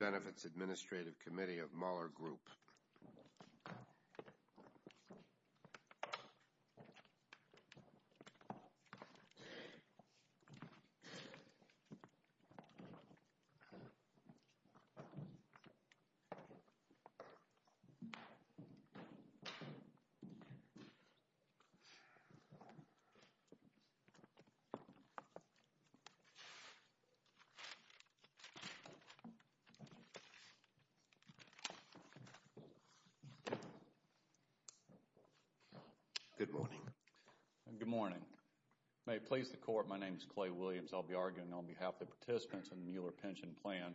Employee Benefits Administrative Committee of Mueller Group Good morning. Good morning. May it please the Court, my name is Clay Williams. I'll be arguing on behalf of the participants in the Mueller pension plan.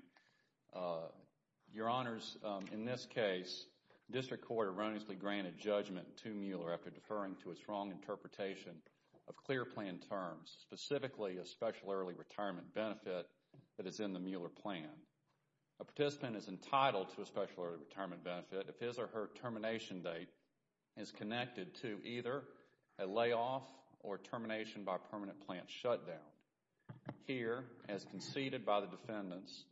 Your Honors, in this case, District Court erroneously granted judgment to Mueller after deferring to its wrong interpretation of clear plan terms, specifically a special early retirement benefit that is in the Mueller plan. A participant is entitled to a special early retirement benefit if his or her termination date is connected to either a layoff or termination by permanent plant shutdown. Here, as conceded by the defendants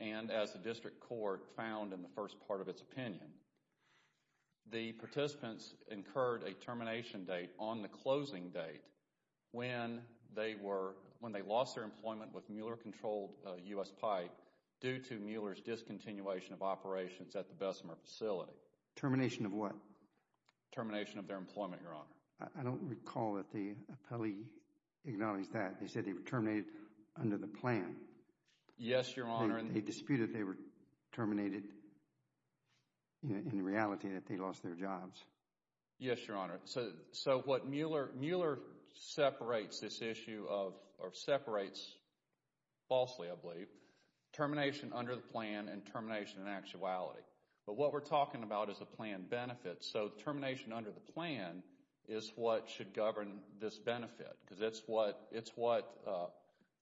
and as the District Court found in the first part of its opinion, the participants incurred a termination date on the closing date when they lost their employment with Mueller-controlled U.S. Pike due to Mueller's discontinuation of operations at the Bessemer facility. Termination of what? Termination of their employment, Your Honor. I don't recall that the appellee acknowledged that. They said they were terminated under the plan. Yes, Your Honor. They disputed they were terminated in the reality that they lost their jobs. Yes, Your Honor. So what Mueller, Mueller separates this issue of or separates, falsely I believe, termination under the plan and termination in actuality. But what we're talking about is a plan benefit. So termination under the plan is what should govern this benefit because it's what, it's what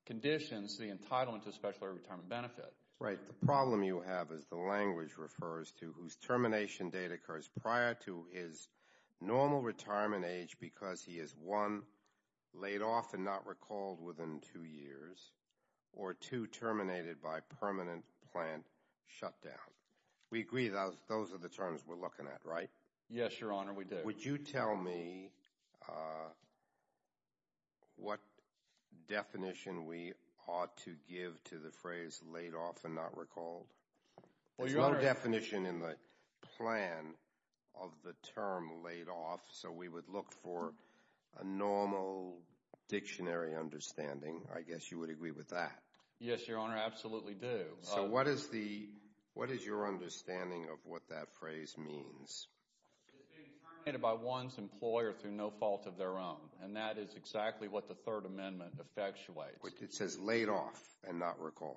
conditions the language refers to whose termination date occurs prior to his normal retirement age because he is, one, laid off and not recalled within two years, or two, terminated by permanent plant shutdown. We agree those are the terms we're looking at, right? Yes, Your Honor, we do. Would you tell me what definition we ought to give to the phrase laid off and not recalled? There's no definition in the plan of the term laid off, so we would look for a normal dictionary understanding. I guess you would agree with that. Yes, Your Honor, absolutely do. So what is the, what is your understanding of what that phrase means? It's being terminated by one's employer through no fault of their own, and that is exactly what the Third Amendment effectuates. It says laid off and not recalled.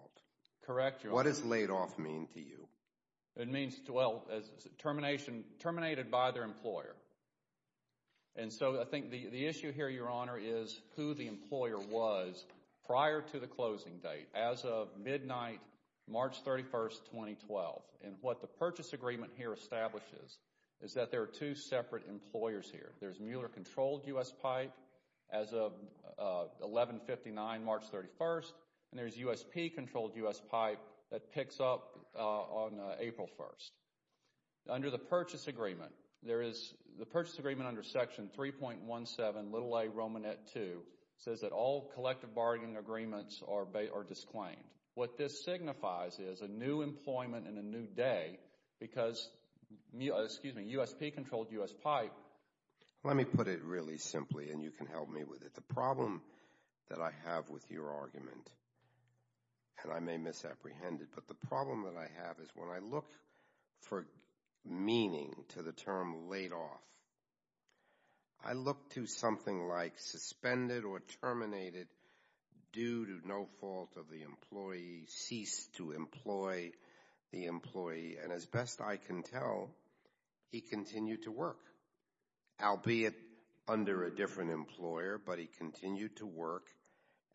Correct, Your Honor. What does laid off mean to you? It means, well, termination, terminated by their employer. And so I think the issue here, Your Honor, is who the employer was prior to the closing date, as of midnight March 31st, 2012. And what the purchase agreement here establishes is that there are two separate employers here. There's Mueller-controlled U.S. Pipe as of 1159, March 31st, and there's USP-controlled U.S. Pipe that picks up on April 1st. Under the purchase agreement, there is, the purchase agreement under Section 3.17, little a, Romanette 2, says that all collective bargaining agreements are disclaimed. What this signifies is a new employment and a new day because, excuse me, USP-controlled U.S. Pipe. Let me put it really bluntly. The problem that I have with your argument, and I may misapprehend it, but the problem that I have is when I look for meaning to the term laid off, I look to something like suspended or terminated due to no fault of the employee, ceased to employ the employee, and as best I can tell, he continued to work, albeit under a different employer, but he continued to work,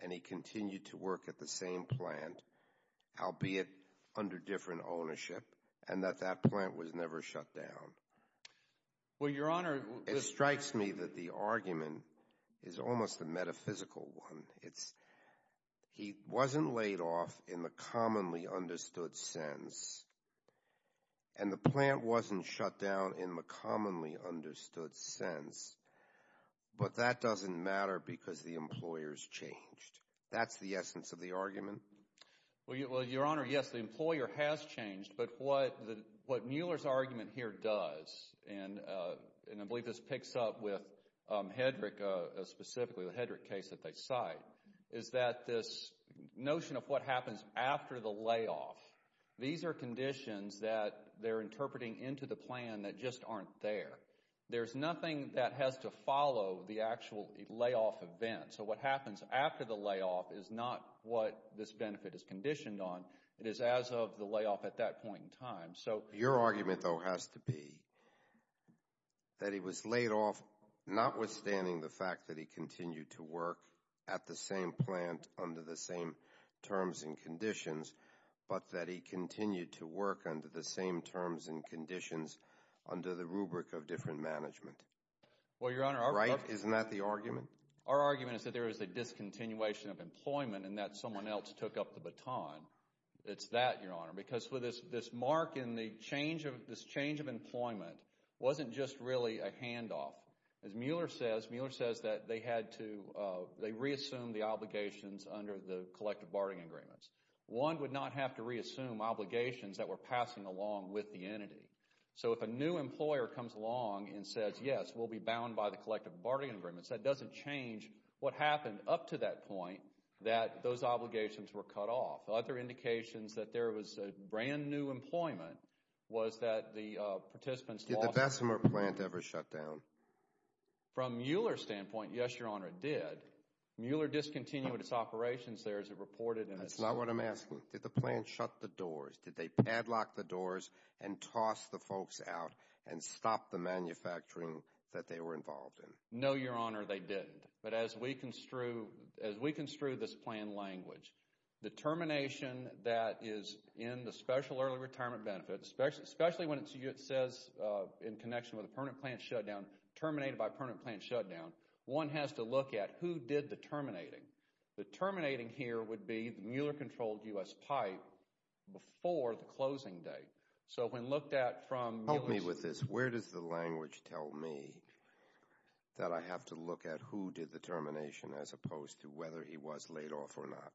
and he continued to work at the same plant, albeit under different ownership, and that that plant was never shut down. Well, Your Honor, this It strikes me that the argument is almost a metaphysical one. It's, he wasn't laid off in the commonly understood sense, and the plant wasn't shut down in the commonly understood sense, but that doesn't matter because the employer's changed. That's the essence of the argument. Well, Your Honor, yes, the employer has changed, but what Mueller's argument here does, and I believe this picks up with Hedrick, specifically the Hedrick case that they cite, is that this notion of what happens after the layoff, these are conditions that they're interpreting into the plan that just aren't there. There's nothing that has to follow the actual layoff event, so what happens after the layoff is not what this benefit is conditioned on. It is as of the layoff at that point in time, so Your argument, though, has to be that he was laid off notwithstanding the fact that he continued to work at the same plant under the same terms and conditions, but that he continued to work under the same terms and conditions under the rubric of different management. Well, Your Honor, our Right? Isn't that the argument? Our argument is that there is a discontinuation of employment and that someone else took up the baton. It's that, Your Honor, because with this mark in the change of, this change of employment wasn't just really a handoff. As Mueller says, Mueller says that they had to, they reassumed the obligations under the collective barting agreements. One would not have to reassume obligations that were passing along with the entity, so if a new employer comes along and says, yes, we'll be bound by the collective barting agreements, that doesn't change what happened up to that point that those obligations were cut off. Other indications that there was a brand new employment was that the participants lost Did the Bessemer plant ever shut down? From Mueller's standpoint, yes, Your Honor, it did. Mueller discontinued its operations there as it reported in its statement. Is that what I'm asking? Did the plant shut the doors? Did they padlock the doors and toss the folks out and stop the manufacturing that they were involved in? No, Your Honor, they didn't, but as we construe, as we construe this plan language, the termination that is in the special early retirement benefits, especially when it says in connection with the permanent plant shutdown, terminated by permanent plant shutdown, one has to look at who did the terminating. The terminating here would be the Mueller-controlled U.S. pipe before the closing date, so when looked at from Mueller's Help me with this. Where does the language tell me that I have to look at who did the termination as opposed to whether he was laid off or not?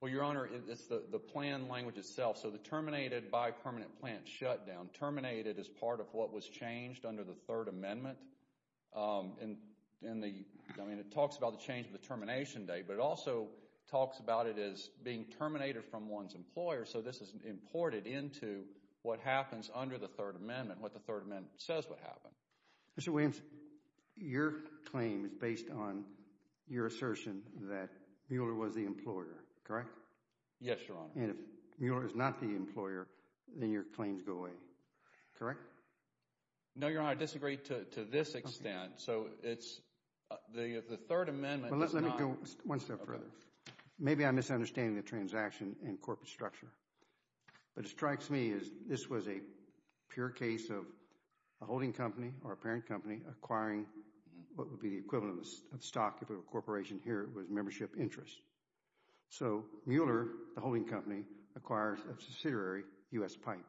Well, Your Honor, it's the plan language itself, so the terminated by permanent plant shutdown, terminated as part of what was changed under the Third Amendment. I mean, it talks about the change of the termination date, but it also talks about it as being terminated from one's employer, so this is imported into what happens under the Third Amendment, what the Third Amendment says would happen. Mr. Williams, your claim is based on your assertion that Mueller was the employer, correct? Yes, Your Honor. And if Mueller is not the employer, then your claims go away, correct? No, Your Honor, I disagree to this extent, so the Third Amendment does not Well, let me go one step further. Maybe I'm misunderstanding the transaction and corporate structure, but it strikes me as this was a pure case of a holding company or a parent company acquiring what would be the equivalent of stock if it were a corporation. Here it was membership interest, so Mueller, the holding company, acquires a subsidiary, U.S. Pipe.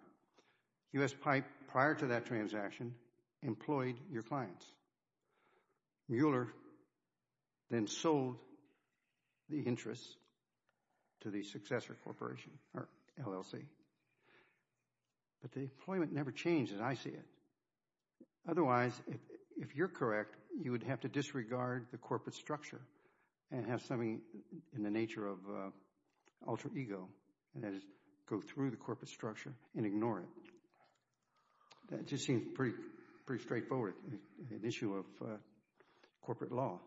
U.S. Pipe, prior to that transaction, employed your clients. Mueller then sold the interests to the successor corporation or LLC, but the employment never changed, as I see it. Otherwise, if you're correct, you would have to disregard the corporate structure and have something in the nature of alter ego, and that is go through the corporate structure and ignore it. That just seems pretty straightforward, an issue of corporate law.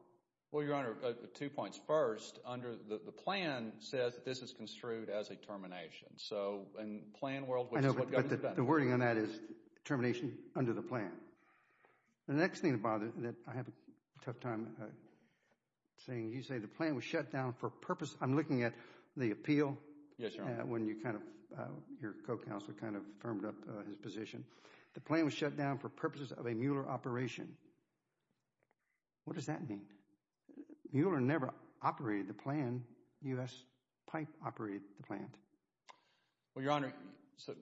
Well, Your Honor, two points. First, under the plan says that this is construed as a termination, so in plan world, which is what Government has done. I know, but the wording on that is termination under the plan. The next thing that bothers me, that I have a tough time saying, you say the plan was shut down for purpose. I'm looking at the appeal. Yes, Your Honor. When you kind of, your co-counsel kind of firmed up his position. The plan was shut down for purposes of a Mueller operation. What does that mean? Mueller never operated the plan. U.S. Pipe operated the plan. Well, Your Honor, so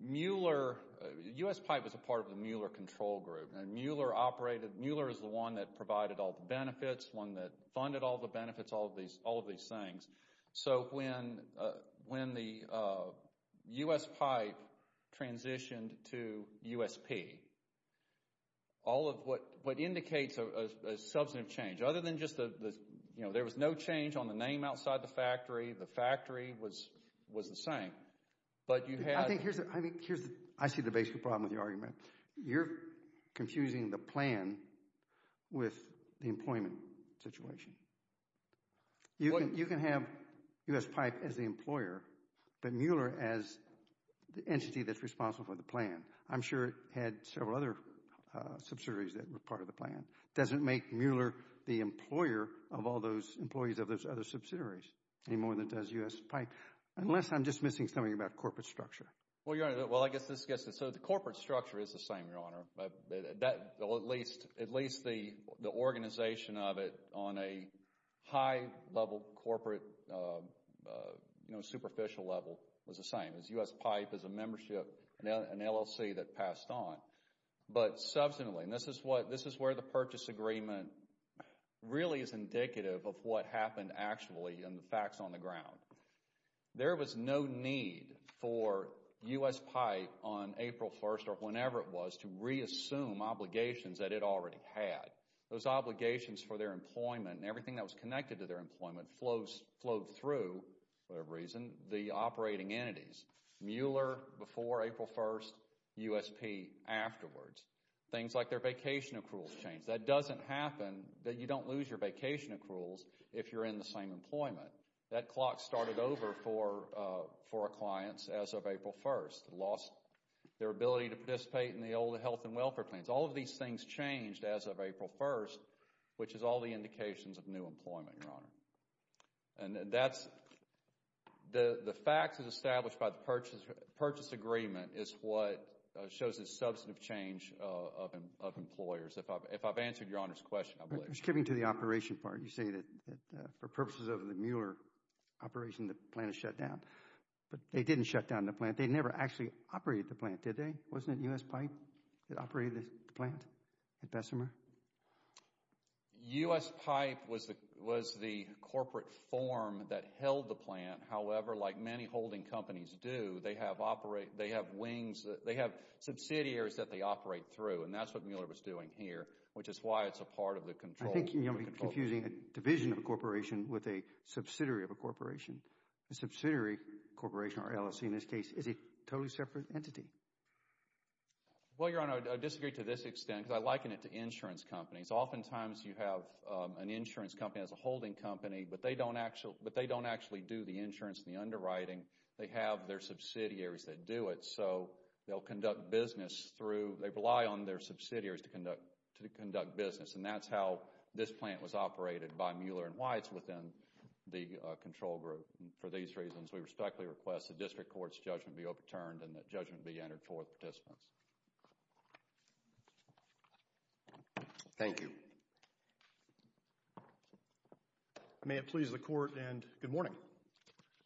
Mueller, U.S. Pipe was a part of the Mueller control group, and Mueller operated, Mueller is the one that provided all the benefits, one that funded all the benefits, all of these things. So, when the U.S. Pipe transitioned to USP, all of what indicates a substantive change, other than just the, you know, there was no change on the name outside the factory, the factory was the same, but you had... I think here's the, I see the basic problem with your argument. You're confusing the plan with the employment situation. You can have US Pipe as the employer, but Mueller as the entity that's responsible for the plan. I'm sure it had several other subsidiaries that were part of the plan. Doesn't make Mueller the employer of all those employees of those other subsidiaries any more than it does U.S. Pipe, unless I'm just missing something about corporate structure. Well, Your Honor, well, I guess this gets to, so the corporate structure is the same, Your Honor. That, at least, at least the organization of it on a high-level corporate, you know, superficial level was the same. It was U.S. Pipe as a membership, an LLC that passed on. But, subsequently, and this is what, this is where the purchase agreement really is actually and the facts on the ground, there was no need for U.S. Pipe on April 1st or whenever it was to reassume obligations that it already had. Those obligations for their employment and everything that was connected to their employment flowed through, for whatever reason, the operating entities. Mueller before April 1st, USP afterwards. Things like their vacation accruals changed. That doesn't happen, that you don't lose your vacation accruals if you're in the same employment. That clock started over for our clients as of April 1st. They lost their ability to participate in the old health and welfare plans. All of these things changed as of April 1st, which is all the indications of new employment, Your Honor. And that's, the facts that are established by the purchase agreement is what shows the substantive change of employers, if I've answered Your Honor's question, I believe. Just getting to the operation part, you say that for purposes of the Mueller operation, the plant is shut down, but they didn't shut down the plant. They never actually operated the plant, did they? Wasn't it USP that operated the plant at Bessemer? USP was the corporate form that held the plant. However, like many holding companies do, they have wings, they have subsidiaries that they operate through, and that's what Mueller was doing here, which is why it's a part of the control. I think you're confusing a division of a corporation with a subsidiary of a corporation. A subsidiary corporation, or LLC in this case, is a totally separate entity. Well, Your Honor, I disagree to this extent, because I liken it to insurance companies. Oftentimes you have an insurance company as a holding company, but they don't actually do the insurance and the underwriting. They have their subsidiaries that do it, so they'll conduct business, and that's how this plant was operated by Mueller and why it's within the control group. For these reasons, we respectfully request the District Court's judgment be overturned and that judgment be entered for the participants. Thank you. May it please the Court, and good morning.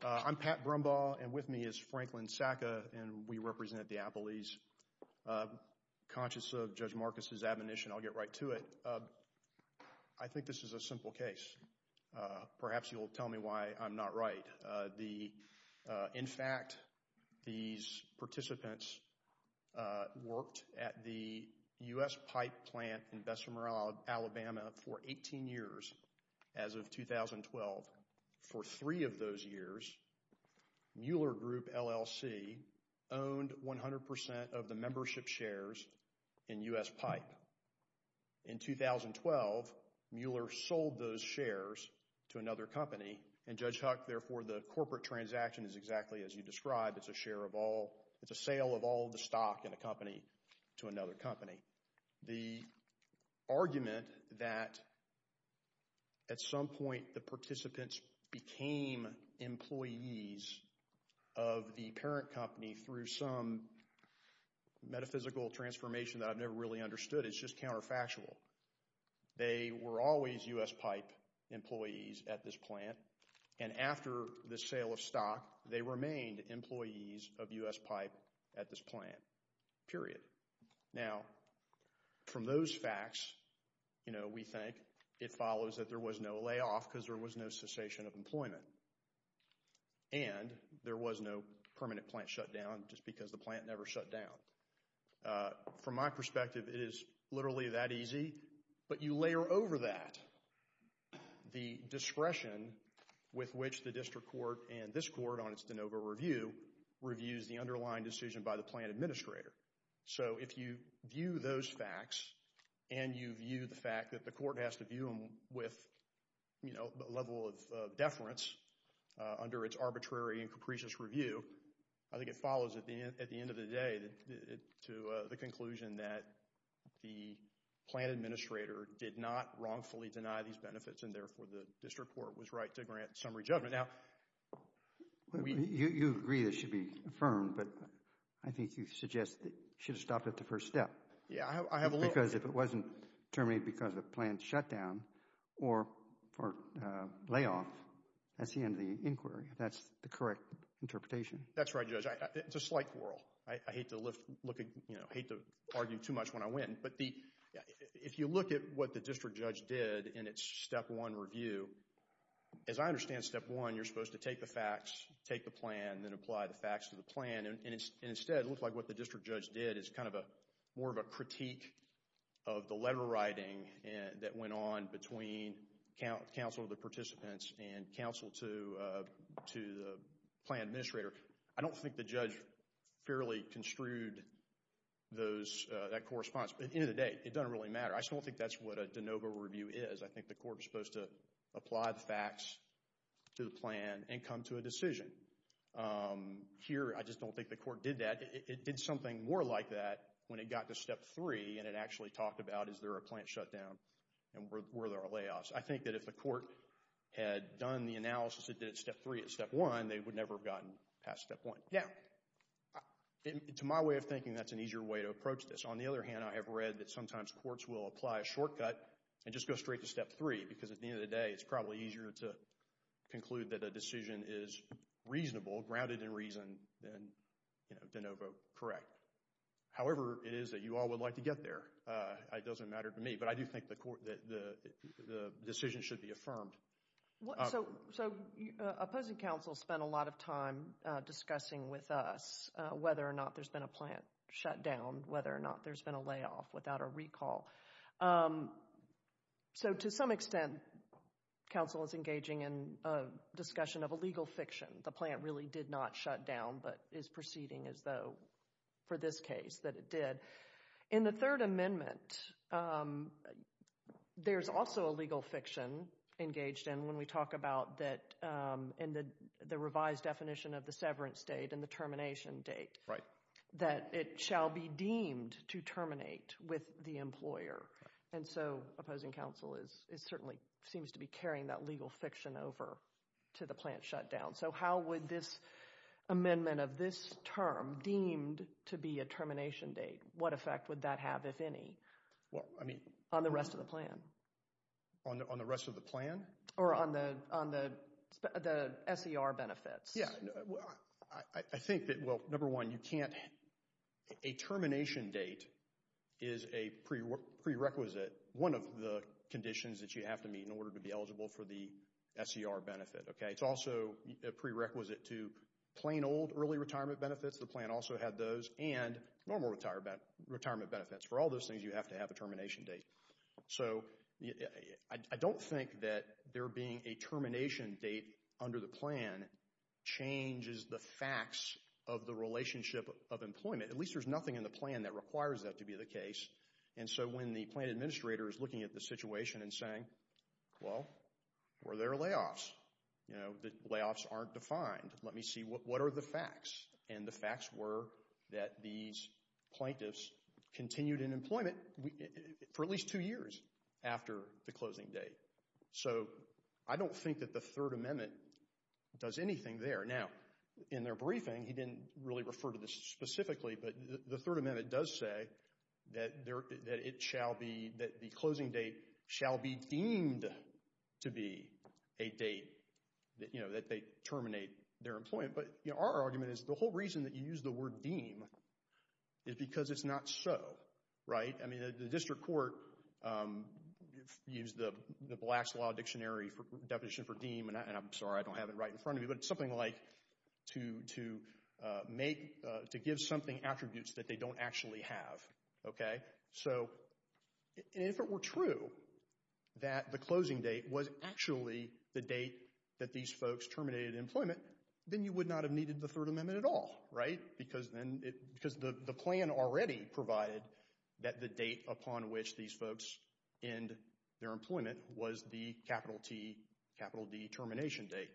I'm Pat Brumbaugh, and with me is Franklin Sacka, and we represent the Appellees. Conscious of Judge Marcus's admonition, I'll get right to it. I think this is a simple case. Perhaps you'll tell me why I'm not right. In fact, these participants worked at the U.S. Pipe plant in Bessemer, Alabama for 18 years as of 2012. For three of those years, Mueller Group LLC owned 100% of the membership shares in U.S. Pipe. In 2012, Mueller sold those shares to another company, and Judge Huck, therefore, the corporate transaction is exactly as you described. It's a sale of all the stock in a company to another company. The argument that at some point the participants became employees of the parent company through some metaphysical transformation that I've never really understood is just counterfactual. They were always U.S. Pipe employees at this plant, period. Now, from those facts, we think it follows that there was no layoff because there was no cessation of employment, and there was no permanent plant shutdown just because the plant never shut down. From my perspective, it is literally that easy, but you layer over that the discretion with which the District Court and this Court on behalf of the plant administrator. So, if you view those facts, and you view the fact that the Court has to view them with a level of deference under its arbitrary and capricious review, I think it follows at the end of the day to the conclusion that the plant administrator did not wrongfully deny these benefits, and therefore, the District Court was right to I think you suggest that you should have stopped at the first step. Yeah, I have a little... Because if it wasn't terminated because of a plant shutdown or layoff, that's the end of the inquiry. That's the correct interpretation. That's right, Judge. It's a slight quarrel. I hate to argue too much when I win, but if you look at what the District Judge did in its Step 1 review, as I understand Step 1, you're supposed to take the facts, take the plan, then apply the facts to the plan, and instead, it looks like what the District Judge did is kind of more of a critique of the letter writing that went on between counsel to the participants and counsel to the plant administrator. I don't think the judge fairly construed that correspondence, but at the end of the day, it doesn't really matter. I just don't think that's what a de novo review is. I think the Court is supposed to apply the facts to the plan and come to a decision. Here, I just don't think the Court did that. It did something more like that when it got to Step 3, and it actually talked about, is there a plant shutdown, and were there layoffs? I think that if the Court had done the analysis it did at Step 3 at Step 1, they would never have gotten past Step 1. Now, to my way of thinking, that's an easier way to approach this. On the other hand, I have read that sometimes courts will apply a shortcut and just go straight to Step 3 because at the end of the day, it's probably easier to conclude that a decision is reasonable, grounded in reason, than de novo correct. However, it is that you all would like to get there. It doesn't matter to me, but I do think the decision should be affirmed. So, opposing counsel spent a lot of time discussing with us whether or not there's been a plant shutdown, whether or not there's been a layoff without a recall. So, to some extent, counsel is engaging in a discussion of a legal fiction. The plant really did not shut down, but is proceeding as though, for this case, that it did. In the Third Amendment, there's also a legal fiction engaged in when we talk about the revised definition of the severance date and the termination date, that it shall be deemed to terminate with the employer. And so, opposing counsel certainly seems to be carrying that legal fiction over to the plant shutdown. So, how would this amendment of this term, deemed to be a termination date, what effect would that have, if any, on the rest of the plan? On the rest of the plan? Or on the SER benefits? Yeah, I think that, well, number one, you can't, a termination date is a prerequisite, one of the conditions that you have to meet in order to be eligible for the SER benefit. It's also a prerequisite to plain old early retirement benefits, the plant also had those, and normal retirement benefits. For all those things, you have to have a termination date. So, I don't think that there being a termination date under the plan, changes the facts of the relationship of employment. At least, there's nothing in the plan that requires that to be the case. And so, when the plant administrator is looking at the situation and saying, well, where are their layoffs? You know, the layoffs aren't defined. Let me see, what are the facts? And the facts were that these plaintiffs continued in employment for at least two years after the closing date. So, I don't think that the Third Amendment does anything there. Now, in their briefing, he didn't really refer to this specifically, but the Third Amendment does say that it shall be, that the closing date shall be deemed to be a date that, you know, that they terminate their employment. But, you know, our argument is the whole reason that you use the word deem is because it's not so, right? I mean, the district court used the Black's Law Dictionary for definition for deem, and I'm sorry, I don't have it right in front of me, but it's something like to make, to give something attributes that they don't actually have, okay? So, if it were true that the closing date was actually the date that these folks terminated employment, then you would not have needed the Third Amendment at all, right? Because then, because the plan already provided that the date upon which these folks end their employment was the capital T, capital D termination date.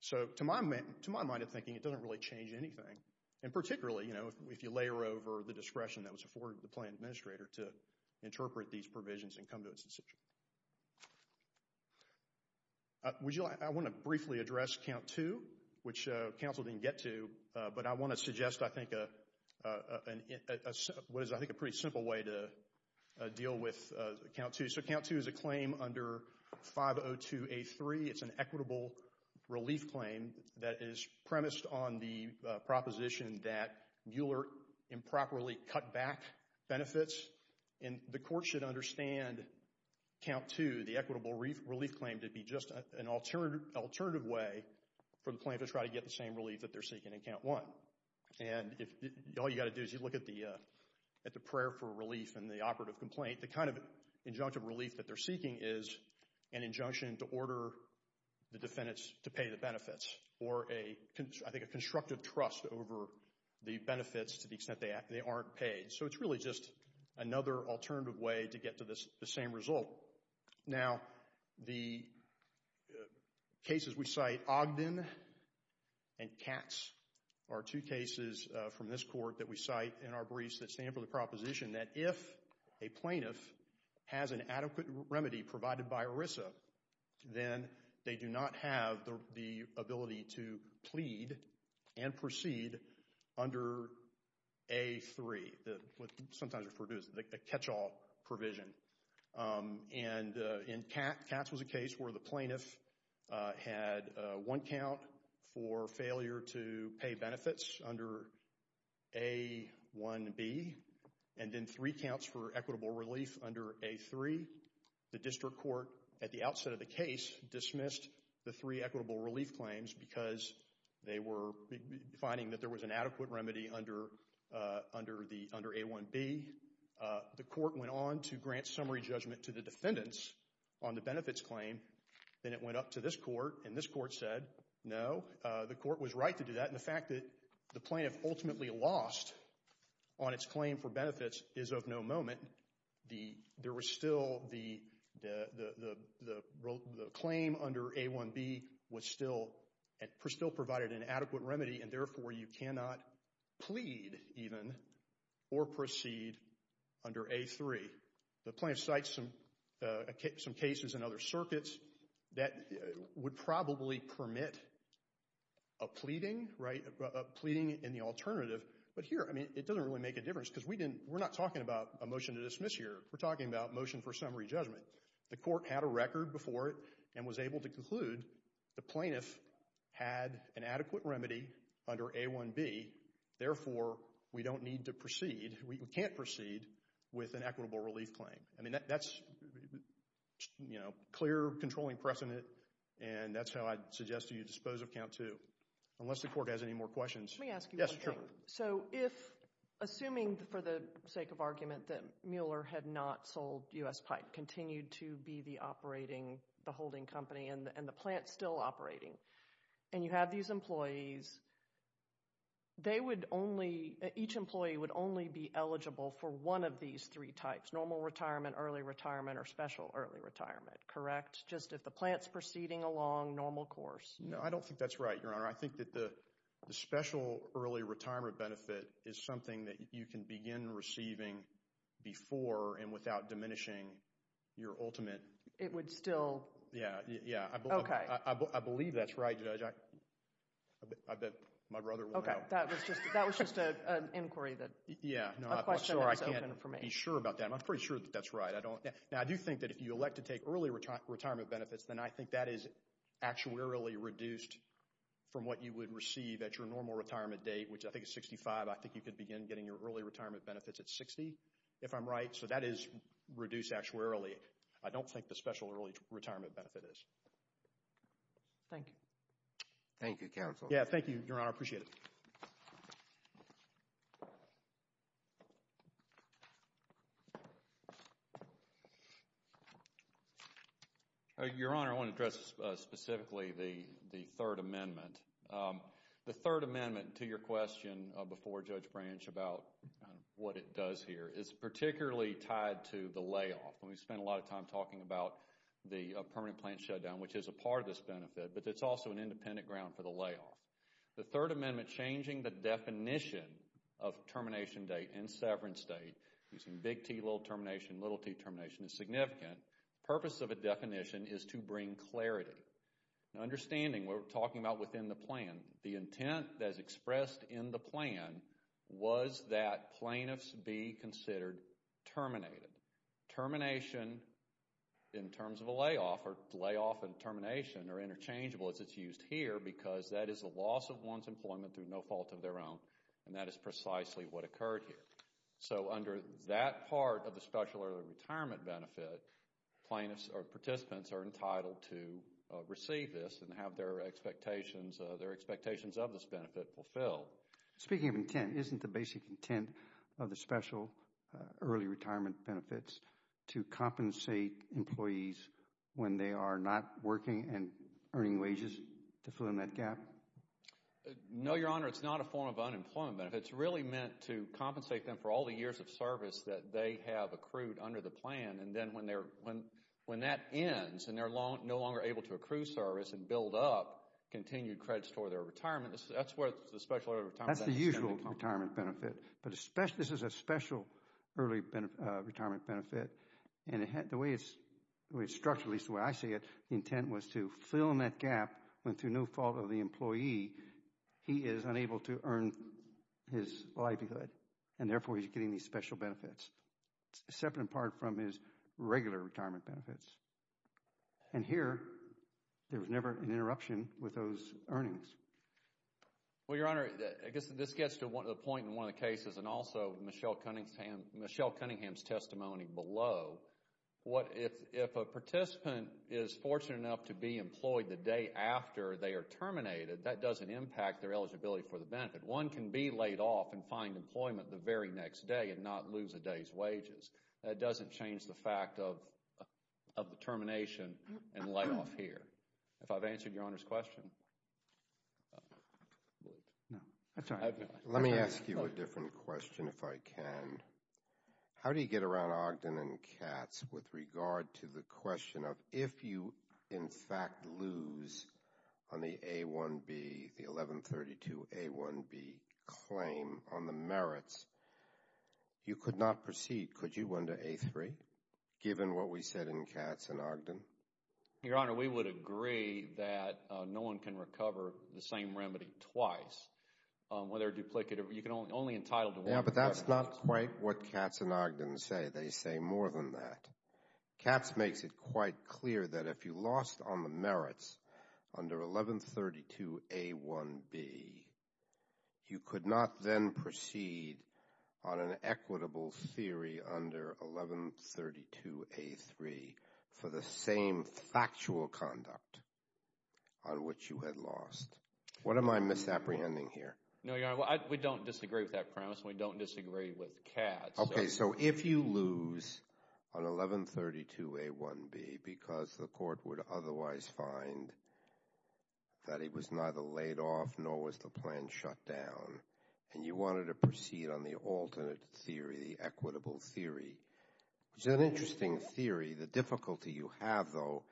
So, to my mind of thinking, it doesn't really change anything. And particularly, you know, if you layer over the discretion that was afforded to the plan administrator to interpret these provisions and come to its decision. I want to briefly address Count 2, which counsel didn't get to, but I want to suggest, I think, what is, I think, a pretty simple way to deal with Count 2. So, Count 2 is a claim under 502A3. It's an equitable relief claim that is premised on the proposition that Mueller improperly cut back benefits, and the court should understand Count 2, the equitable relief claim, to be just an alternative way for the plaintiff to try to get the same relief that they're seeking in Count 1. And all you got to do is you look at the prayer for relief and the operative complaint, the kind of injunctive relief that they're seeking is an injunction to order the defendants to pay the benefits, or a, I think, a constructive trust over the benefits to the extent they aren't paid. So, it's really just another alternative way to get to the same result. Now, the cases we cite, Ogden and Katz, are two cases from this court that we cite in our briefs that stand for the proposition that if a plaintiff has an adequate remedy provided by ERISA, then they do not have the ability to plead and proceed under A3, what And in Katz, Katz was a case where the plaintiff had one count for failure to pay benefits under A1B, and then three counts for equitable relief under A3. The district court, at the outset of the case, dismissed the three equitable relief claims because they were finding that there was an adequate remedy under A1B. The court went on to grant summary judgment to the defendants on the benefits claim, then it went up to this court, and this court said, no, the court was right to do that, and the fact that the plaintiff ultimately lost on its claim for benefits is of no moment. There was still the claim under A1B was still provided an adequate remedy, and therefore you cannot plead, even, or proceed under A3. The plaintiff cites some cases in other circuits that would probably permit a pleading, right, a pleading in the alternative, but here, I mean, it doesn't really make a difference because we didn't, we're not talking about a motion to dismiss here. We're talking about motion for summary judgment. The court had a record before it and was able to conclude the plaintiff had an adequate remedy under A1B, therefore we don't need to proceed, we can't proceed with an equitable relief claim. I mean, that's, you know, clear controlling precedent, and that's how I'd suggest you dispose of count two, unless the court has any more questions. Let me ask you one thing. Yes, sure. So, if, assuming for the sake of argument that Mueller had not sold U.S. Pipe, continued to be the operating, the holding company, and the plant's still operating, and you have these employees, they would only, each employee would only be eligible for one of these three types, normal retirement, early retirement, or special early retirement, correct? Just if the plant's proceeding along normal course. No, I don't think that's right, Your Honor. I think that the special early retirement benefit is something that you can begin receiving before and without diminishing your ultimate. It would still. Yeah, yeah. Okay. I believe that's right, Judge. I bet my brother will know. Okay, that was just an inquiry that, a question that was open for me. Yeah, no, I'm sorry, I can't be sure about that. I'm pretty sure that that's right. Now, I do think that if you elect to take early retirement benefits, then I think that is actuarially reduced from what you would receive at your normal retirement date, which I think is 65. I think you could begin getting your early retirement benefits at 60, if I'm right. So, that is reduced actuarially. I don't think the special early retirement benefit is. Thank you. Thank you, Counsel. Yeah, thank you, Your Honor. I appreciate it. Your Honor, I want to address specifically the Third Amendment. The Third Amendment to your question before Judge Branch about what it does here is particularly tied to the layoff. And we spent a lot of time talking about the permanent plant shutdown, which is a part of this benefit, but it's also an independent ground for the layoff. The Third Amendment changing the definition of termination date and severance date, using big T, little termination, little t termination, is significant. The purpose of a definition is to bring clarity. Now, understanding what we're talking about within the plan, the intent that is expressed in the plan was that plaintiffs be considered terminated. Termination in terms of a layoff and termination are interchangeable as it's used here because that is a loss of one's employment through no fault of their own, and that is precisely what occurred here. So, under that part of the special early retirement benefit, plaintiffs or participants are entitled to receive this and have their expectations of this benefit fulfilled. Speaking of intent, isn't the basic intent of the special early retirement benefits to compensate employees when they are not working and earning wages to fill in that gap? No, Your Honor, it's not a form of unemployment benefit. It's really meant to compensate them for all the years of service that they have accrued under the plan, and then when that ends and they're no longer able to accrue service and build up continued credits for their retirement, that's where the special early retirement benefit comes in. The way it's structured, at least the way I see it, the intent was to fill in that gap when through no fault of the employee, he is unable to earn his livelihood, and therefore he's getting these special benefits, separate and apart from his regular retirement benefits. And here, there was never an interruption with those earnings. Well, Your Honor, I guess this gets to the point in one of the cases and also Michelle Cunningham's testimony below. If a participant is fortunate enough to be employed the day after they are terminated, that doesn't impact their eligibility for the benefit. One can be laid off and find employment the very next day and not lose a day's wages. That doesn't change the fact of the termination and layoff here. If I've answered Your Honor's question. Let me ask you a different question if I can. How do you get around Ogden and Katz with regard to the question of if you, in fact, lose on the A-1B, the 1132-A-1B claim on the merits, you could not proceed. Could you win the A-3 given what we said in Katz and Ogden? Your Honor, we would agree that no one can recover the same remedy twice, whether duplicative. You can only entitle to one. Yeah, but that's not quite what Katz and Ogden say. They say more than that. Katz makes it quite clear that if you lost on the merits under 1132-A-1B, you could not then proceed on an equitable theory under 1132-A-3 for the same factual conduct on which you had lost. What am I misapprehending here? No, Your Honor, we don't disagree with that premise and we don't disagree with Katz. Okay, so if you lose on 1132-A-1B because the court would otherwise find that it was neither laid off nor was the plan shut down and you wanted to proceed on the alternate theory, the equitable theory. It's an interesting theory. The difficulty you have, though,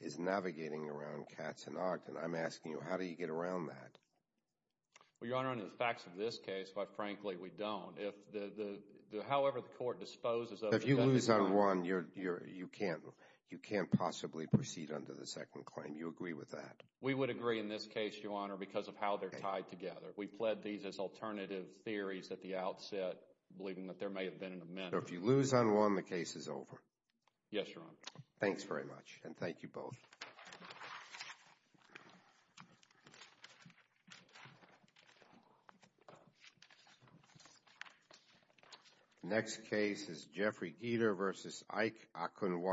is navigating around Katz and Ogden. I'm asking you, how do you get around that? Well, Your Honor, under the facts of this case, quite frankly, we don't. However the court disposes of the evidence… If you lose on one, you can't possibly proceed under the second claim. Do you agree with that? We would agree in this case, Your Honor, because of how they're tied together. We pled these as alternative theories at the outset, believing that there may have been an amendment. So if you lose on one, the case is over? Yes, Your Honor. Thanks very much and thank you both. Next case is Jeffrey Geter v. Ike Okunwa.